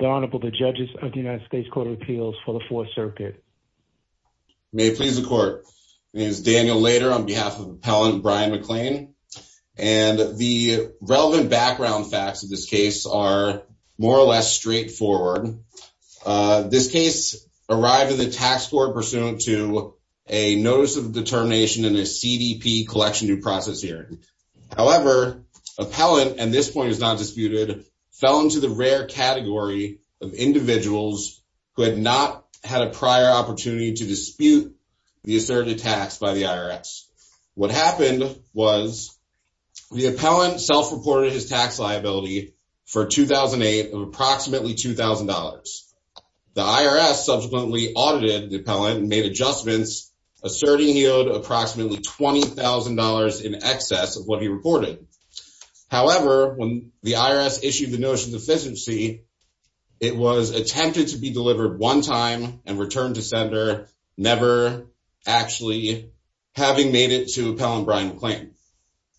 The Honorable the Judges of the United States Court of Appeals for the Fourth Circuit. May it please the Court. My name is Daniel Lader on behalf of Appellant Brian McLane. And the relevant background facts of this case are more or less straightforward. This case arrived at the Tax Board pursuant to a Notice of Determination and a CDP Collection Due Process hearing. However, Appellant, and this point is not disputed, fell into the rare category of individuals who had not had a prior opportunity to dispute the asserted tax by the IRS. What happened was the Appellant self-reported his tax liability for 2008 of approximately $2,000. The IRS subsequently audited the Appellant and made adjustments, asserting he owed approximately $20,000 in excess of what he reported. However, when the IRS issued the Notice of Deficiency, it was attempted to be delivered one time and returned to sender, never actually having made it to Appellant Brian McLane.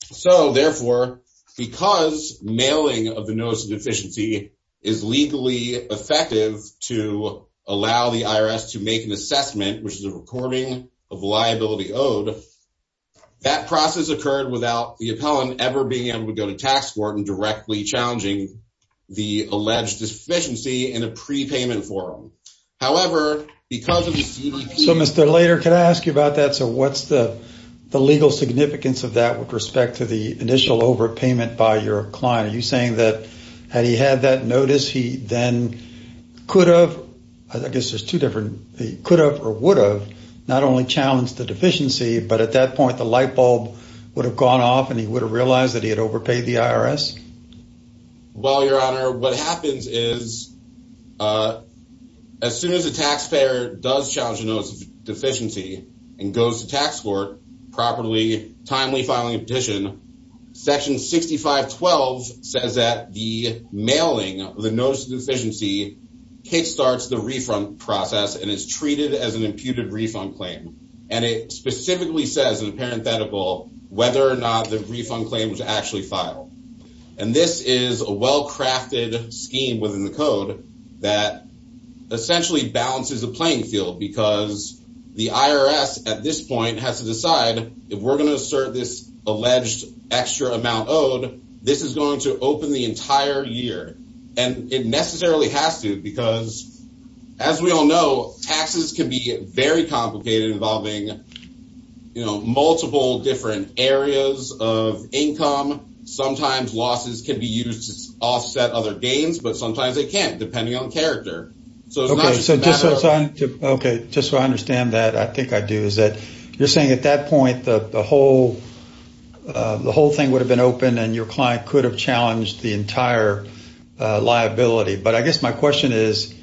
So, therefore, because mailing of the Notice of Deficiency is legally effective to allow the IRS to make an assessment, which is a recording of liability owed, that process occurred without the Appellant ever being able to go to tax court and directly challenging the alleged deficiency in a prepayment form. However, because of the CDP… So, Mr. Lader, can I ask you about that? So, what's the legal significance of that with respect to the initial overpayment by your client? Are you saying that had he had that notice, he then could have, I guess there's two different, he could have or would have not only challenged the deficiency, but at that point the light bulb would have gone off and he would have realized that he had overpaid the IRS? Well, Your Honor, what happens is as soon as a taxpayer does challenge a Notice of Deficiency and goes to tax court properly, timely filing a petition, Section 6512 says that the mailing of the Notice of Deficiency kickstarts the refund process and is treated as an imputed refund claim. And it specifically says in a parenthetical whether or not the refund claim was actually filed. And this is a well-crafted scheme within the code that essentially balances the playing field because the IRS at this point has to decide if we're going to assert this alleged extra amount owed, this is going to open the entire year. And it necessarily has to because as we all know, taxes can be very complicated involving, you know, multiple different areas of income. Sometimes losses can be used to offset other gains, but sometimes they can't, depending on character. So just so I understand that, I think I do, is that you're saying at that point the whole thing would have been open and your client could have challenged the entire liability. But I guess my question is,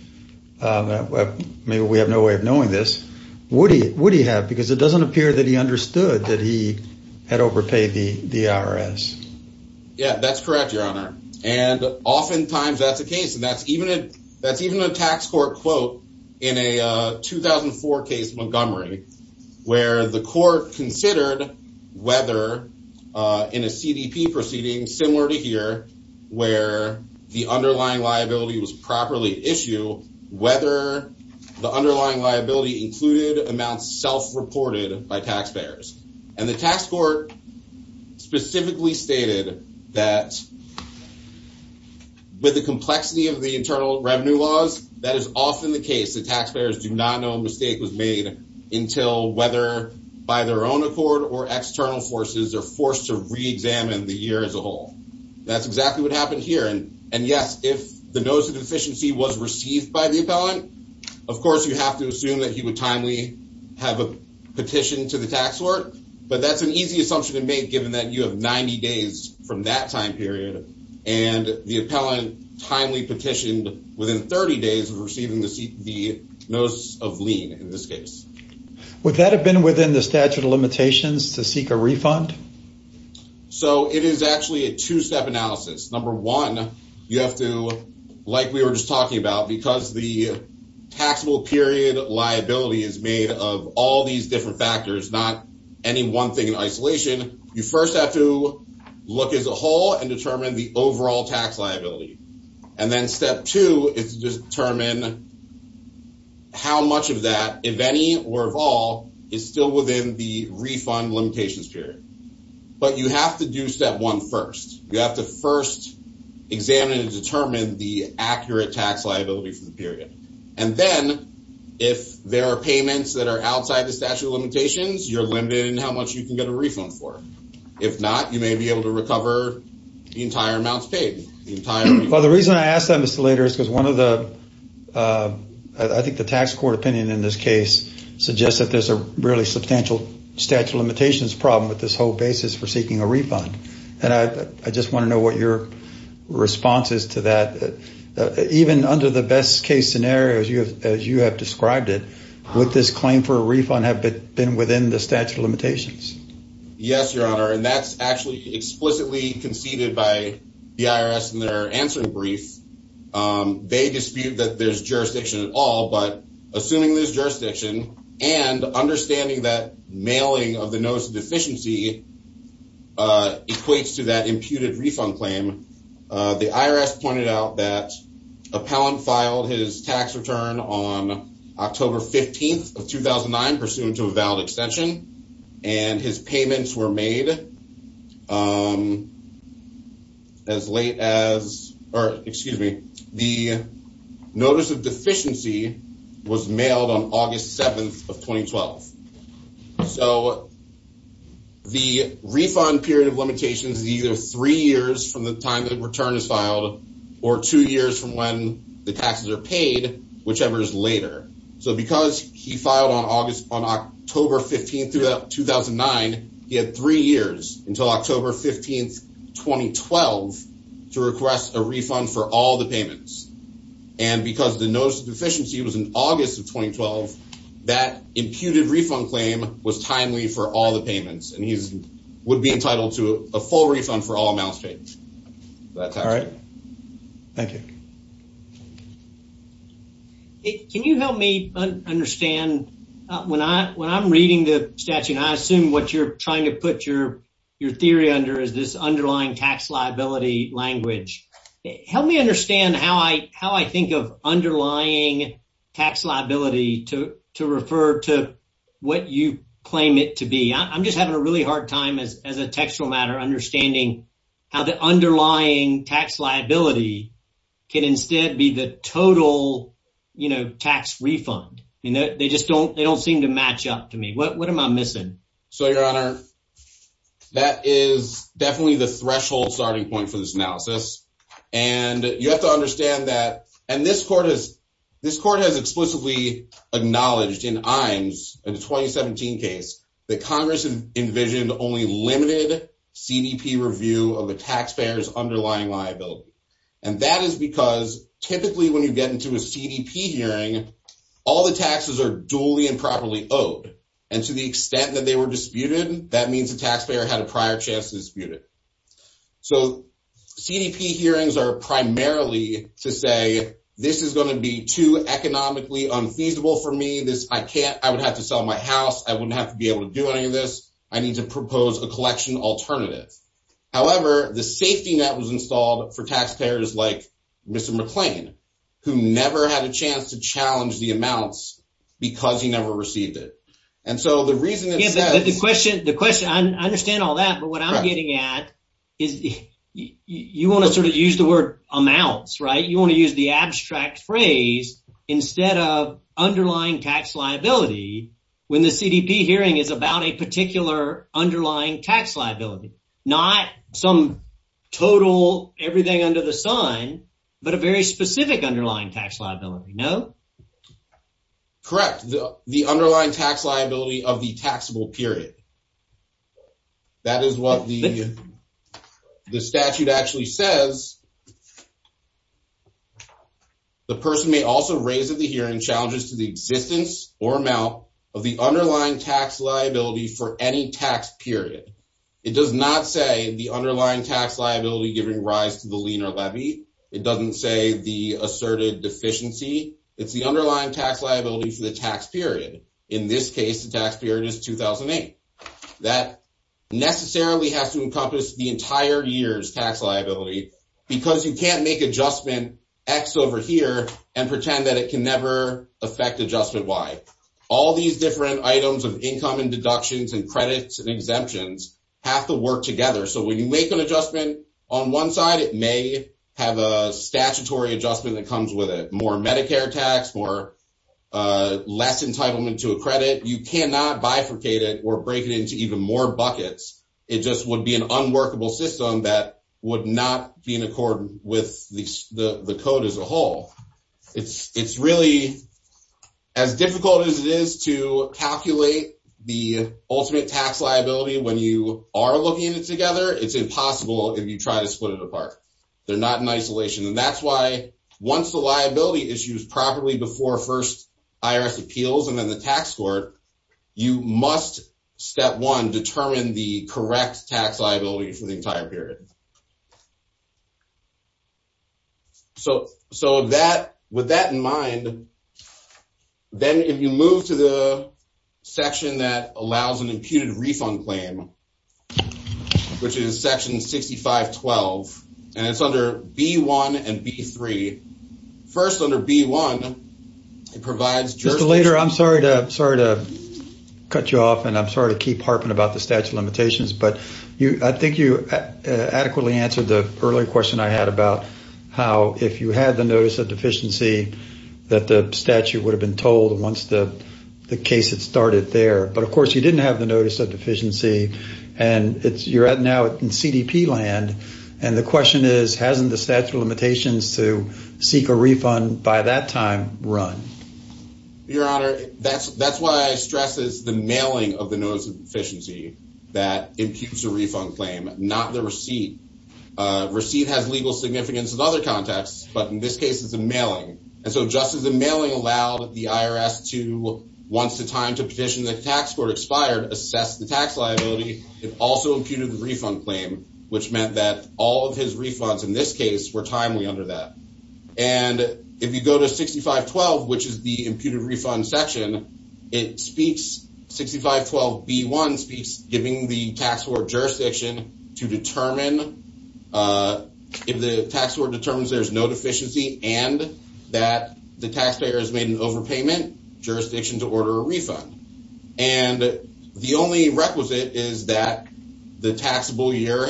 maybe we have no way of knowing this, would he have? Because it doesn't appear that he understood that he had overpaid the IRS. Yeah, that's correct, Your Honor. And oftentimes that's the case. And that's even a tax court quote in a 2004 case, Montgomery, where the court considered whether in a CDP proceeding similar to here, where the underlying liability was properly issued, whether the underlying liability included amounts self-reported by taxpayers. And the tax court specifically stated that with the complexity of the internal revenue laws, that is often the case. The taxpayers do not know a mistake was made until whether by their own accord or external forces are forced to re-examine the year as a whole. That's exactly what happened here. And yes, if the notice of deficiency was received by the appellant, of course, you have to assume that he would timely have a petition to the tax court. But that's an easy assumption to make, given that you have 90 days from that time period and the appellant timely petitioned within 30 days of receiving the notice of lien in this case. Would that have been within the statute of limitations to seek a refund? So it is actually a two-step analysis. Number one, you have to, like we were just talking about, because the taxable period liability is made of all these different factors, not any one thing in isolation. You first have to look as a whole and determine the overall tax liability. And then step two is to determine how much of that, if any or of all, is still within the refund limitations period. But you have to do step one first. You have to first examine and determine the accurate tax liability for the period. And then if there are payments that are outside the statute of limitations, you're limited in how much you can get a refund for. If not, you may be able to recover the entire amounts paid. Well, the reason I ask that, Mr. Lader, is because one of the, I think the tax court opinion in this case suggests that there's a really substantial statute of limitations problem with this whole basis for seeking a refund. And I just want to know what your response is to that. Even under the best case scenario, as you have described it, would this claim for a refund have been within the statute of limitations? Yes, Your Honor. And that's actually explicitly conceded by the IRS in their answering brief. They dispute that there's jurisdiction at all. But assuming there's jurisdiction and understanding that mailing of the notice of deficiency equates to that imputed refund claim, the IRS pointed out that Appellant filed his tax return on October 15th of 2009, pursuant to a valid extension, and his payments were made as late as, or excuse me, the notice of deficiency was mailed on August 7th of 2012. So the refund period of limitations is either three years from the time the return is filed or two years from when the taxes are paid, whichever is later. So because he filed on October 15th, 2009, he had three years until October 15th, 2012, to request a refund for all the payments. And because the notice of deficiency was in August of 2012, that imputed refund claim was timely for all the payments. And he would be entitled to a full refund for all amounts paid. All right. Thank you. Can you help me understand, when I'm reading the statute, and I assume what you're trying to put your theory under is this underlying tax liability language. Help me understand how I think of underlying tax liability to refer to what you claim it to be. I'm just having a really hard time, as a textual matter, understanding how the underlying tax liability can instead be the total tax refund. They just don't seem to match up to me. What am I missing? So, Your Honor, that is definitely the threshold starting point for this analysis. And you have to understand that, and this court has explicitly acknowledged in Iams, in the 2017 case, that Congress envisioned only limited CDP review of the taxpayer's underlying liability. And that is because typically when you get into a CDP hearing, all the taxes are duly and properly owed. And to the extent that they were disputed, that means the taxpayer had a prior chance to dispute it. So, CDP hearings are primarily to say, this is going to be too economically unfeasible for me. I would have to sell my house. I wouldn't have to be able to do any of this. I need to propose a collection alternative. However, the safety net was installed for taxpayers like Mr. McClain, who never had a chance to challenge the amounts because he never received it. And so the reason that the question, the question, I understand all that. But what I'm getting at is you want to sort of use the word amounts, right? You want to use the abstract phrase instead of underlying tax liability when the CDP hearing is about a particular underlying tax liability. Not some total everything under the sun, but a very specific underlying tax liability. No. Correct. The underlying tax liability of the taxable period. That is what the statute actually says. The person may also raise at the hearing challenges to the existence or amount of the underlying tax liability for any tax period. It does not say the underlying tax liability giving rise to the leaner levy. It doesn't say the asserted deficiency. It's the underlying tax liability for the tax period. In this case, the tax period is 2008. That necessarily has to encompass the entire year's tax liability because you can't make adjustment X over here and pretend that it can never affect adjustment Y. All these different items of income and deductions and credits and exemptions have to work together. So when you make an adjustment on one side, it may have a statutory adjustment that comes with it. More Medicare tax, more less entitlement to a credit. You cannot bifurcate it or break it into even more buckets. It just would be an unworkable system that would not be in accord with the code as a whole. It's really as difficult as it is to calculate the ultimate tax liability when you are looking at it together. It's impossible if you try to split it apart. They're not in isolation. And that's why once the liability issues properly before first IRS appeals and then the tax court, you must, step one, determine the correct tax liability for the entire period. So with that in mind, then if you move to the section that allows an imputed refund claim, which is section 6512, and it's under B-1 and B-3, first under B-1, it provides jurisdictions. I'm sorry to cut you off and I'm sorry to keep harping about the statute of limitations. But I think you adequately answered the earlier question I had about how if you had the notice of deficiency that the statute would have been told once the case had started there. But, of course, you didn't have the notice of deficiency. And you're now in CDP land. And the question is, hasn't the statute of limitations to seek a refund by that time run? Your Honor, that's why I stress this, the mailing of the notice of deficiency that imputes a refund claim, not the receipt. Receipt has legal significance in other contexts. But in this case, it's a mailing. And so just as the mailing allowed the IRS to, once the time to petition the tax court expired, assess the tax liability, it also imputed the refund claim, which meant that all of his refunds in this case were timely under that. And if you go to 6512, which is the imputed refund section, 6512B-1 speaks giving the tax court jurisdiction to determine if the tax court determines there's no deficiency and that the taxpayer has made an overpayment jurisdiction to order a refund. And the only requisite is that the taxable year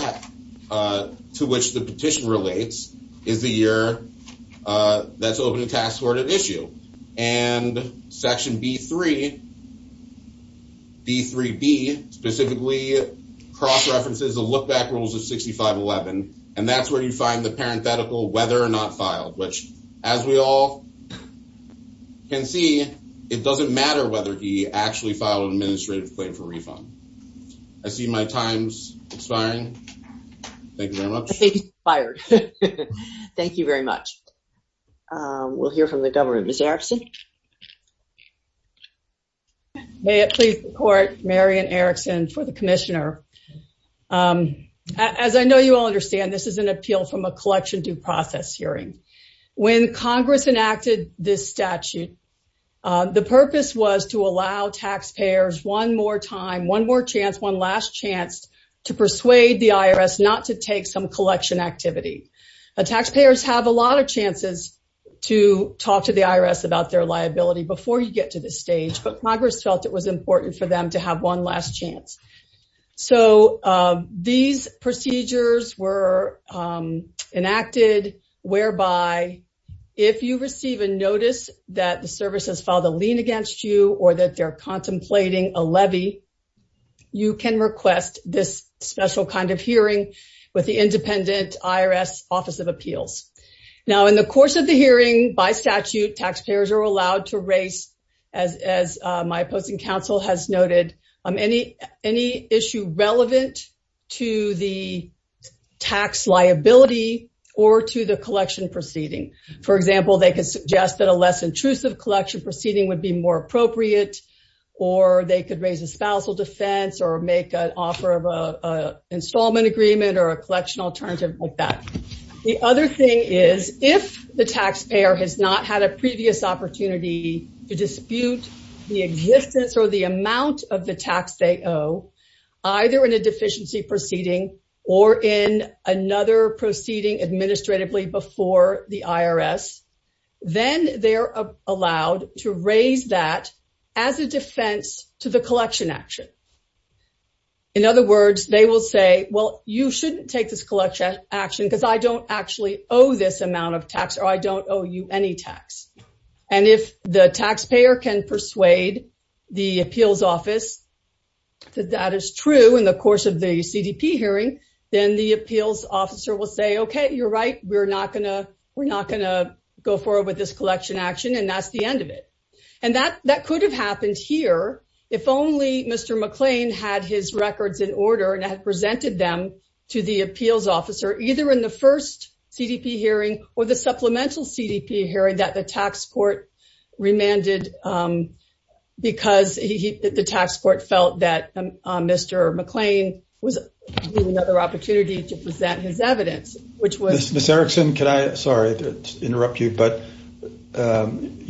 to which the petition relates is the year that's open to tax court at issue. And Section B3, D3B, specifically cross-references the look-back rules of 6511. And that's where you find the parenthetical whether or not filed, which, as we all can see, it doesn't matter whether he actually filed an administrative claim for refund. I see my time's expiring. Thank you very much. I think he's expired. Thank you very much. We'll hear from the government. We'll hear from Ms. Erickson. May it please the court, Mary Ann Erickson for the commissioner. As I know you all understand, this is an appeal from a collection due process hearing. When Congress enacted this statute, the purpose was to allow taxpayers one more time, one more chance, one last chance to persuade the IRS not to take some collection activity. Taxpayers have a lot of chances to talk to the IRS about their liability before you get to this stage, but Congress felt it was important for them to have one last chance. So these procedures were enacted whereby if you receive a notice that the service has filed a lien against you or that they're contemplating a levy, you can request this special kind of hearing with the independent IRS Office of Appeals. Now, in the course of the hearing, by statute, taxpayers are allowed to raise, as my opposing counsel has noted, any issue relevant to the tax liability or to the collection proceeding. For example, they could suggest that a less intrusive collection proceeding would be more appropriate, or they could raise a spousal defense or make an offer of an installment agreement or a collection alternative like that. The other thing is, if the taxpayer has not had a previous opportunity to dispute the existence or the amount of the tax they owe, either in a deficiency proceeding or in another proceeding administratively before the IRS, then they're allowed to raise that as a defense to the collection action. In other words, they will say, well, you shouldn't take this collection action because I don't actually owe this amount of tax or I don't owe you any tax. And if the taxpayer can persuade the appeals office that that is true in the course of the CDP hearing, then the appeals officer will say, okay, you're right, we're not going to go forward with this collection action, and that's the end of it. And that could have happened here if only Mr. McLean had his records in order and had presented them to the appeals officer either in the first CDP hearing or the supplemental CDP hearing that the tax court remanded because the tax court felt that Mr. McLean was giving another opportunity to present his evidence, which was...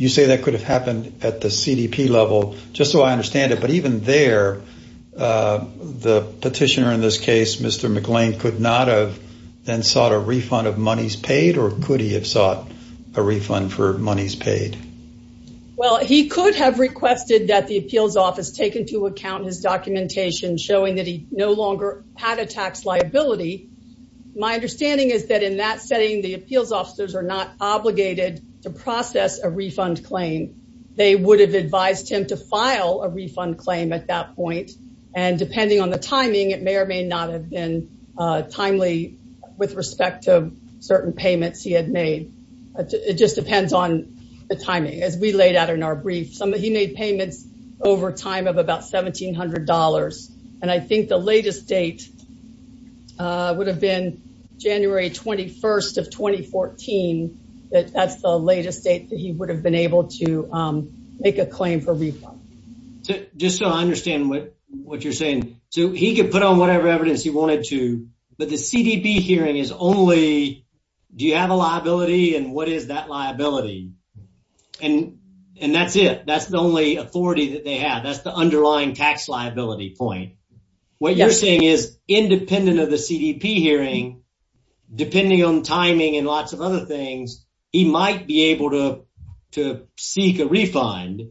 You say that could have happened at the CDP level, just so I understand it, but even there, the petitioner in this case, Mr. McLean, could not have then sought a refund of monies paid or could he have sought a refund for monies paid? Well, he could have requested that the appeals office take into account his documentation showing that he no longer had a tax liability. My understanding is that in that setting, the appeals officers are not obligated to process a refund claim. They would have advised him to file a refund claim at that point, and depending on the timing, it may or may not have been timely with respect to certain payments he had made. It just depends on the timing. As we laid out in our brief, he made payments over time of about $1,700, and I think the latest date would have been January 21st of 2014. That's the latest date that he would have been able to make a claim for refund. Just so I understand what you're saying. He could put on whatever evidence he wanted to, but the CDP hearing is only, do you have a liability and what is that liability? And that's it. That's the only authority that they have. That's the underlying tax liability point. What you're saying is independent of the CDP hearing, depending on timing and lots of other things, he might be able to seek a refund,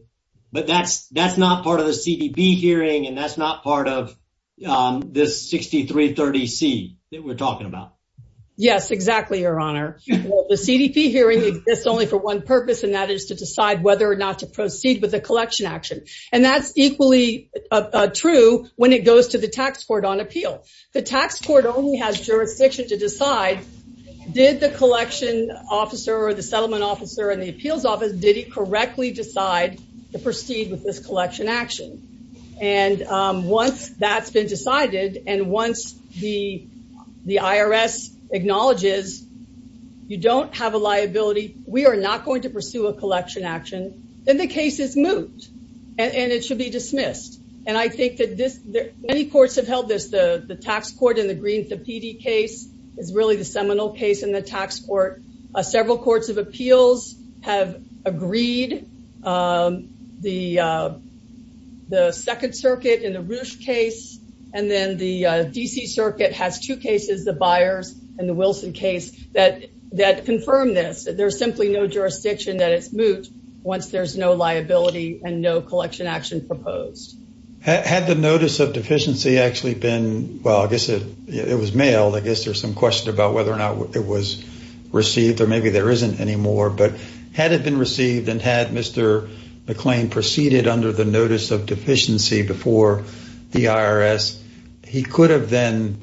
but that's not part of the CDP hearing and that's not part of this 6330C that we're talking about. Yes, exactly, Your Honor. The CDP hearing exists only for one purpose, and that is to decide whether or not to proceed with a collection action, and that's equally true when it goes to the tax court on appeal. The tax court only has jurisdiction to decide, did the collection officer or the settlement officer and the appeals office, did he correctly decide to proceed with this collection action? And once that's been decided and once the IRS acknowledges you don't have a liability, we are not going to pursue a collection action, then the case is moved and it should be dismissed. And I think that this, many courts have held this, the tax court in the Green Thapiti case is really the seminal case in the tax court. Several courts of appeals have agreed, the Second Circuit in the Roosh case, and then the D.C. Circuit has two cases, the Byers and the Wilson case, that confirm this. There's simply no jurisdiction that it's moved once there's no liability and no collection action proposed. Had the notice of deficiency actually been, well, I guess it was mailed, I guess there's some question about whether or not it was received or maybe there isn't anymore, but had it been received and had Mr. McClain proceeded under the notice of deficiency before the IRS, he could have then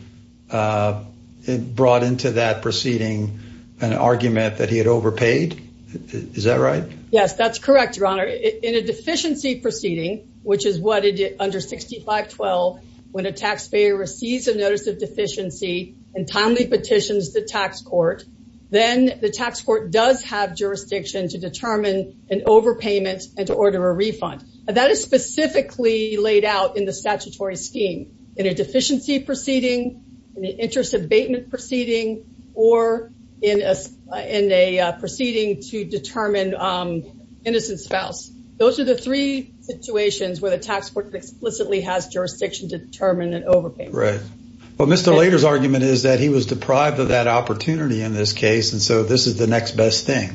brought into that proceeding an argument that he had overpaid? Is that right? Yes, that's correct, Your Honor. In a deficiency proceeding, which is what it did under 6512, when a taxpayer receives a notice of deficiency and timely petitions the tax court, then the tax court does have jurisdiction to determine an overpayment and to order a refund. That is specifically laid out in the statutory scheme, in a deficiency proceeding, in an interest abatement proceeding, or in a proceeding to determine innocent spouse. Those are the three situations where the tax court explicitly has jurisdiction to determine an overpayment. Right. Well, Mr. Lader's argument is that he was deprived of that opportunity in this case, and so this is the next best thing.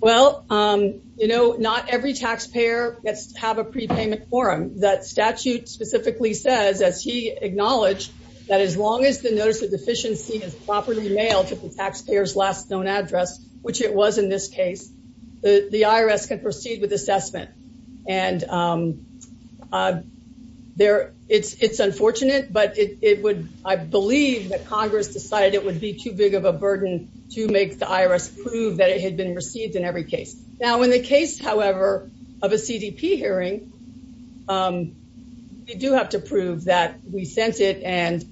Well, you know, not every taxpayer gets to have a prepayment forum. That statute specifically says, as he acknowledged, that as long as the notice of deficiency is properly mailed to the taxpayer's last known address, which it was in this case, the IRS can proceed with assessment. And it's unfortunate, but I believe that Congress decided it would be too big of a burden to make the IRS prove that it had been received in every case. Now, in the case, however, of a CDP hearing, we do have to prove that we sent it, and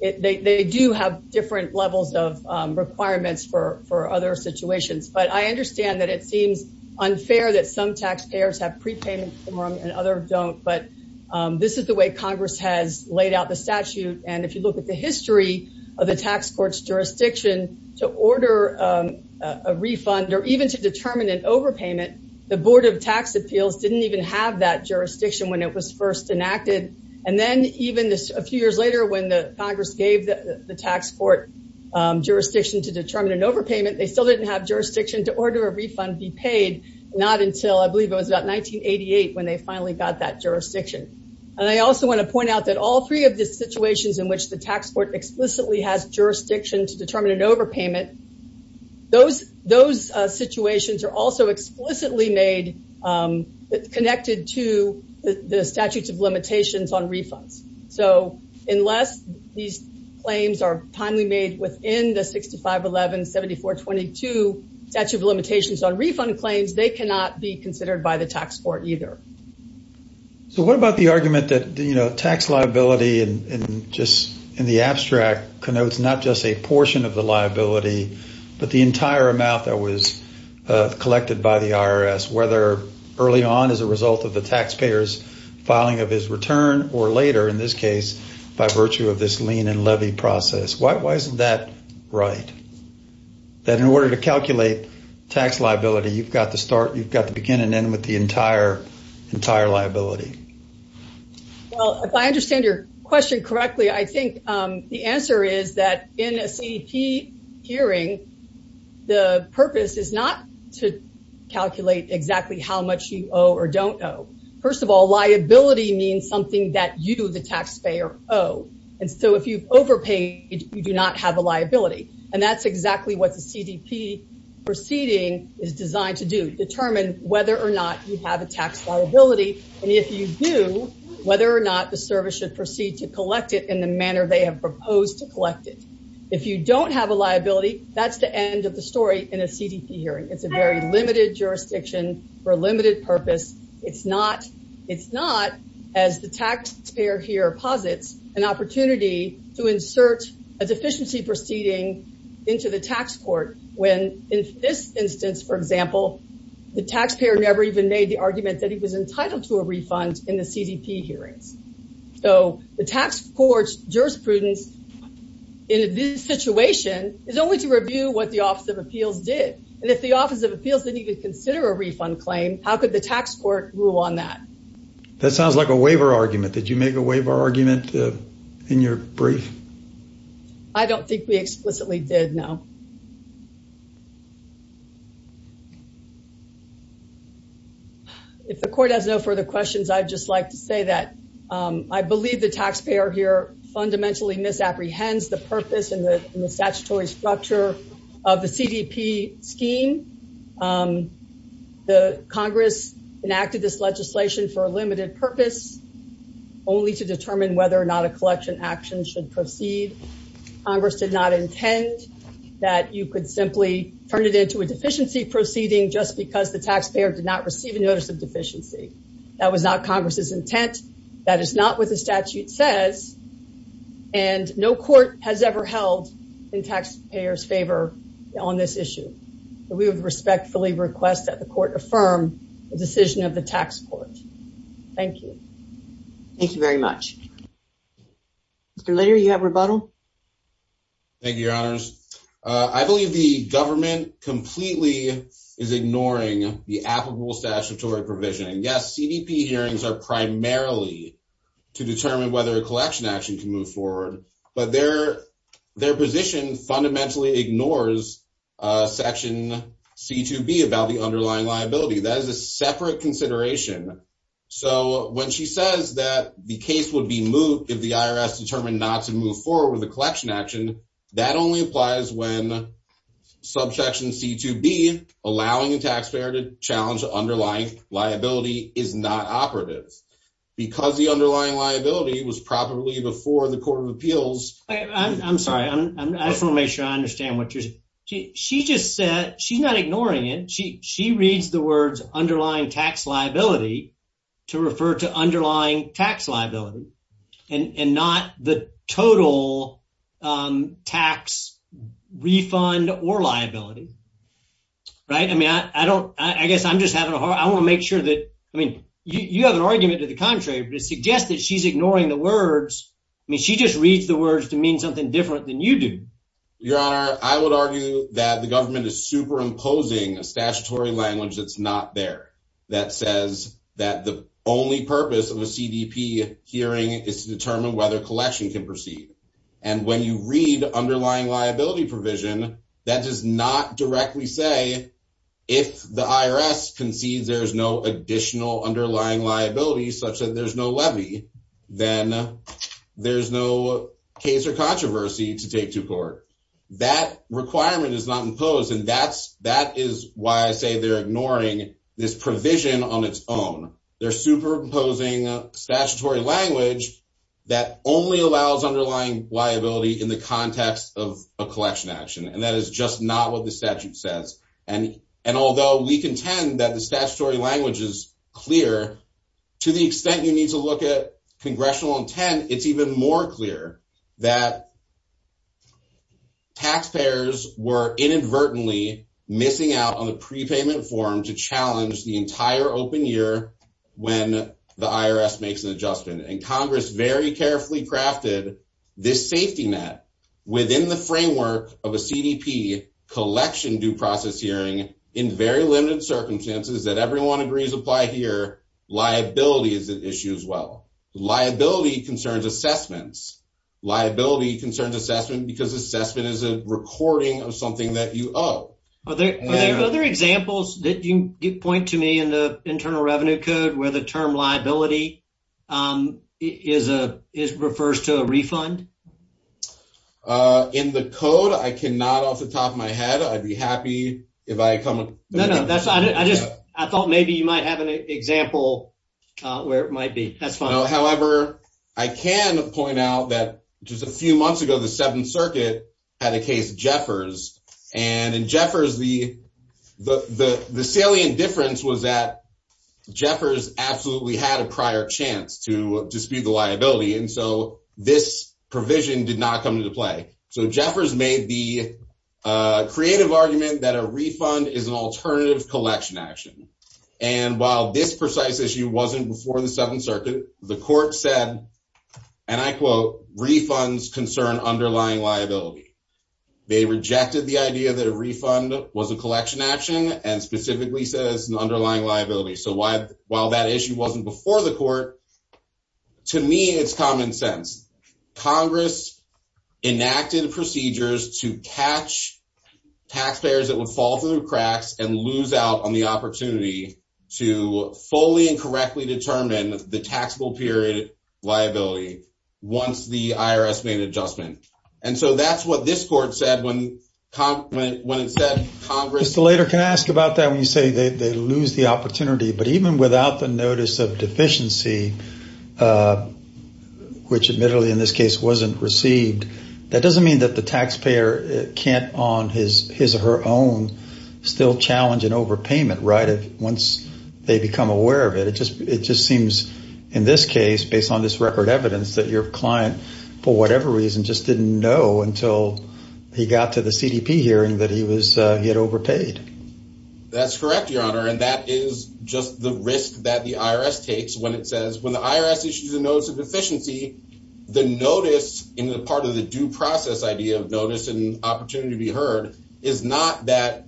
they do have different levels of requirements for other situations. But I understand that it seems unfair that some taxpayers have prepayment and others don't, but this is the way Congress has laid out the statute. And if you look at the history of the tax court's jurisdiction, to order a refund or even to determine an overpayment, the Board of Tax Appeals didn't even have that jurisdiction when it was first enacted. And then even a few years later, when Congress gave the tax court jurisdiction to determine an overpayment, they still didn't have jurisdiction to order a refund be paid, not until I believe it was about 1988 when they finally got that jurisdiction. And I also want to point out that all three of the situations in which the tax court explicitly has jurisdiction to determine an overpayment, those situations are also explicitly made, connected to the statutes of limitations on refunds. So, unless these claims are timely made within the 6511, 7422 statute of limitations on refund claims, they cannot be considered by the tax court either. So what about the argument that tax liability in the abstract connotes not just a portion of the liability, but the entire amount that was collected by the IRS, whether early on as a result of the taxpayer's filing of his return or later, in this case, by virtue of this lien and levy process? Why isn't that right? That in order to calculate tax liability, you've got to start, you've got to begin and end with the entire liability. Well, if I understand your question correctly, I think the answer is that in a CDP hearing, the purpose is not to calculate exactly how much you owe or don't owe. First of all, liability means something that you, the taxpayer, owe. And so if you've overpaid, you do not have a liability. And that's exactly what the CDP proceeding is designed to do, determine whether or not you have a tax liability. And if you do, whether or not the service should proceed to collect it in the manner they have proposed to collect it. If you don't have a liability, that's the end of the story in a CDP hearing. It's a very limited jurisdiction for a limited purpose. It's not, as the taxpayer here posits, an opportunity to insert a deficiency proceeding into the tax court. When in this instance, for example, the taxpayer never even made the argument that he was entitled to a refund in the CDP hearings. So the tax court's jurisprudence in this situation is only to review what the Office of Appeals did. And if the Office of Appeals didn't even consider a refund claim, how could the tax court rule on that? That sounds like a waiver argument. Did you make a waiver argument in your brief? I don't think we explicitly did, no. If the court has no further questions, I'd just like to say that I believe the taxpayer here fundamentally misapprehends the purpose and the statutory structure of the CDP scheme. The Congress enacted this legislation for a limited purpose, only to determine whether or not a collection action should proceed. Congress did not intend that you could simply turn it into a deficiency proceeding just because the taxpayer did not receive a notice of deficiency. That was not Congress's intent. That is not what the statute says. And no court has ever held the taxpayer's favor on this issue. We would respectfully request that the court affirm the decision of the tax court. Thank you. Thank you very much. Mr. Lehner, you have rebuttal? Thank you, Your Honors. I believe the government completely is ignoring the applicable statutory provision. Yes, CDP hearings are primarily to determine whether a collection action can move forward, but their position fundamentally ignores Section C-2B about the underlying liability. That is a separate consideration. So when she says that the case would be moot if the IRS determined not to move forward with a collection action, that only applies when Section C-2B, allowing the taxpayer to challenge the underlying liability, is not operative. Because the underlying liability was probably before the Court of Appeals. I'm sorry. I just want to make sure I understand what you're saying. She just said, she's not ignoring it. She reads the words underlying tax liability to refer to underlying tax liability and not the total tax refund or liability. Right? I mean, I guess I'm just having a hard time. I want to make sure that, I mean, you have an argument to the contrary, but it suggests that she's ignoring the words. I mean, she just reads the words to mean something different than you do. Your Honor, I would argue that the government is superimposing a statutory language that's not there, that says that the only purpose of a CDP hearing is to determine whether a collection can proceed. And when you read underlying liability provision, that does not directly say, if the IRS concedes there's no additional underlying liability, such that there's no levy, then there's no case or controversy to take to court. That requirement is not imposed, and that is why I say they're ignoring this provision on its own. They're superimposing a statutory language that only allows underlying liability in the context of a collection action. And that is just not what the statute says. And although we contend that the statutory language is clear, to the extent you need to look at congressional intent, it's even more clear that taxpayers were inadvertently missing out on the prepayment form to challenge the entire open year when the IRS makes an adjustment. And Congress very carefully crafted this safety net within the framework of a CDP collection due process hearing in very limited circumstances that everyone agrees apply here. Liability is an issue as well. Liability concerns assessments. Liability concerns assessment because assessment is a recording of something that you owe. Are there other examples that you point to me in the Internal Revenue Code where the term liability refers to a refund? In the code, I cannot off the top of my head. I'd be happy if I come up. No, no. I thought maybe you might have an example where it might be. That's fine. However, I can point out that just a few months ago, the Seventh Circuit had a case, Jeffers. And in Jeffers, the salient difference was that Jeffers absolutely had a prior chance to dispute the liability. And so this provision did not come into play. So Jeffers made the creative argument that a refund is an alternative collection action. And while this precise issue wasn't before the Seventh Circuit, the court said, and I quote, refunds concern underlying liability. They rejected the idea that a refund was a collection action and specifically says an underlying liability. So while that issue wasn't before the court, to me, it's common sense. Congress enacted procedures to catch taxpayers that would fall through the cracks and lose out on the opportunity to fully and correctly determine the taxable period liability once the IRS made an adjustment. And so that's what this court said when it said Congress... Just a later, can I ask about that when you say they lose the opportunity, but even without the notice of deficiency, which admittedly in this case wasn't received, that doesn't mean that the taxpayer can't on his or her own still challenge an overpayment, right? Once they become aware of it, it just seems in this case, based on this record evidence, that your client, for whatever reason, just didn't know until he got to the CDP hearing that he had overpaid. That's correct, Your Honor. And that is just the risk that the IRS takes when it says when the IRS issues a notice of deficiency, the notice in the part of the due process idea of notice and opportunity to be heard is not that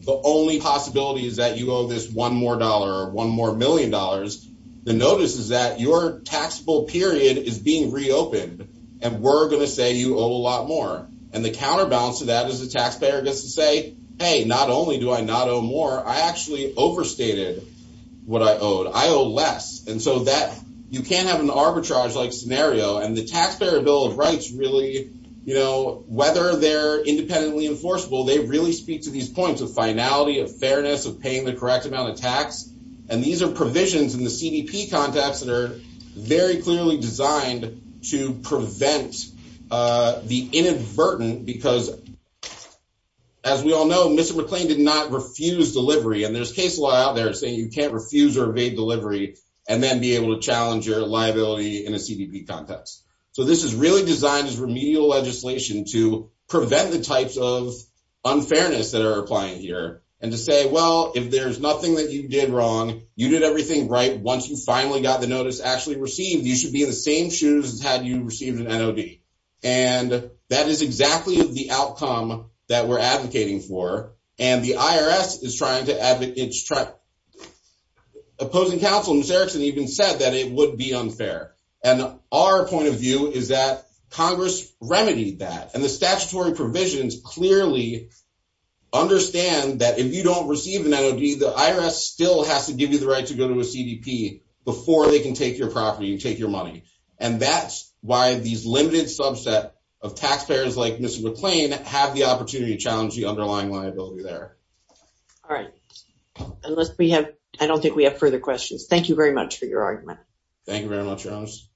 the only possibility is that you owe this one more dollar or one more million dollars. The notice is that your taxable period is being reopened and we're going to say you owe a lot more. And the counterbalance to that is the taxpayer gets to say, hey, not only do I not owe more, I actually overstated what I owed. I owe less. And so you can't have an arbitrage-like scenario. And the Taxpayer Bill of Rights really, whether they're independently enforceable, they really speak to these points of finality, of fairness, of paying the correct amount of tax. And these are provisions in the CDP context that are very clearly designed to prevent the inadvertent because, as we all know, Mr. McClain did not refuse delivery. And there's case law out there saying you can't refuse or evade delivery and then be able to challenge your liability in a CDP context. So this is really designed as remedial legislation to prevent the types of unfairness that are applying here and to say, well, if there's nothing that you did wrong, you did everything right. Once you finally got the notice actually received, you should be in the same shoes as had you received an NOD. And that is exactly the outcome that we're advocating for. And the IRS is trying to advocate, opposing counsel, Ms. Erickson, even said that it would be unfair. And our point of view is that Congress remedied that. And the statutory provisions clearly understand that if you don't receive an NOD, the IRS still has to give you the right to go to a CDP before they can take your property and take your money. And that's why these limited subset of taxpayers like Mr. McClain have the opportunity to challenge the underlying liability there. All right. Unless we have, I don't think we have further questions. Thank you very much for your argument. Thank you very much.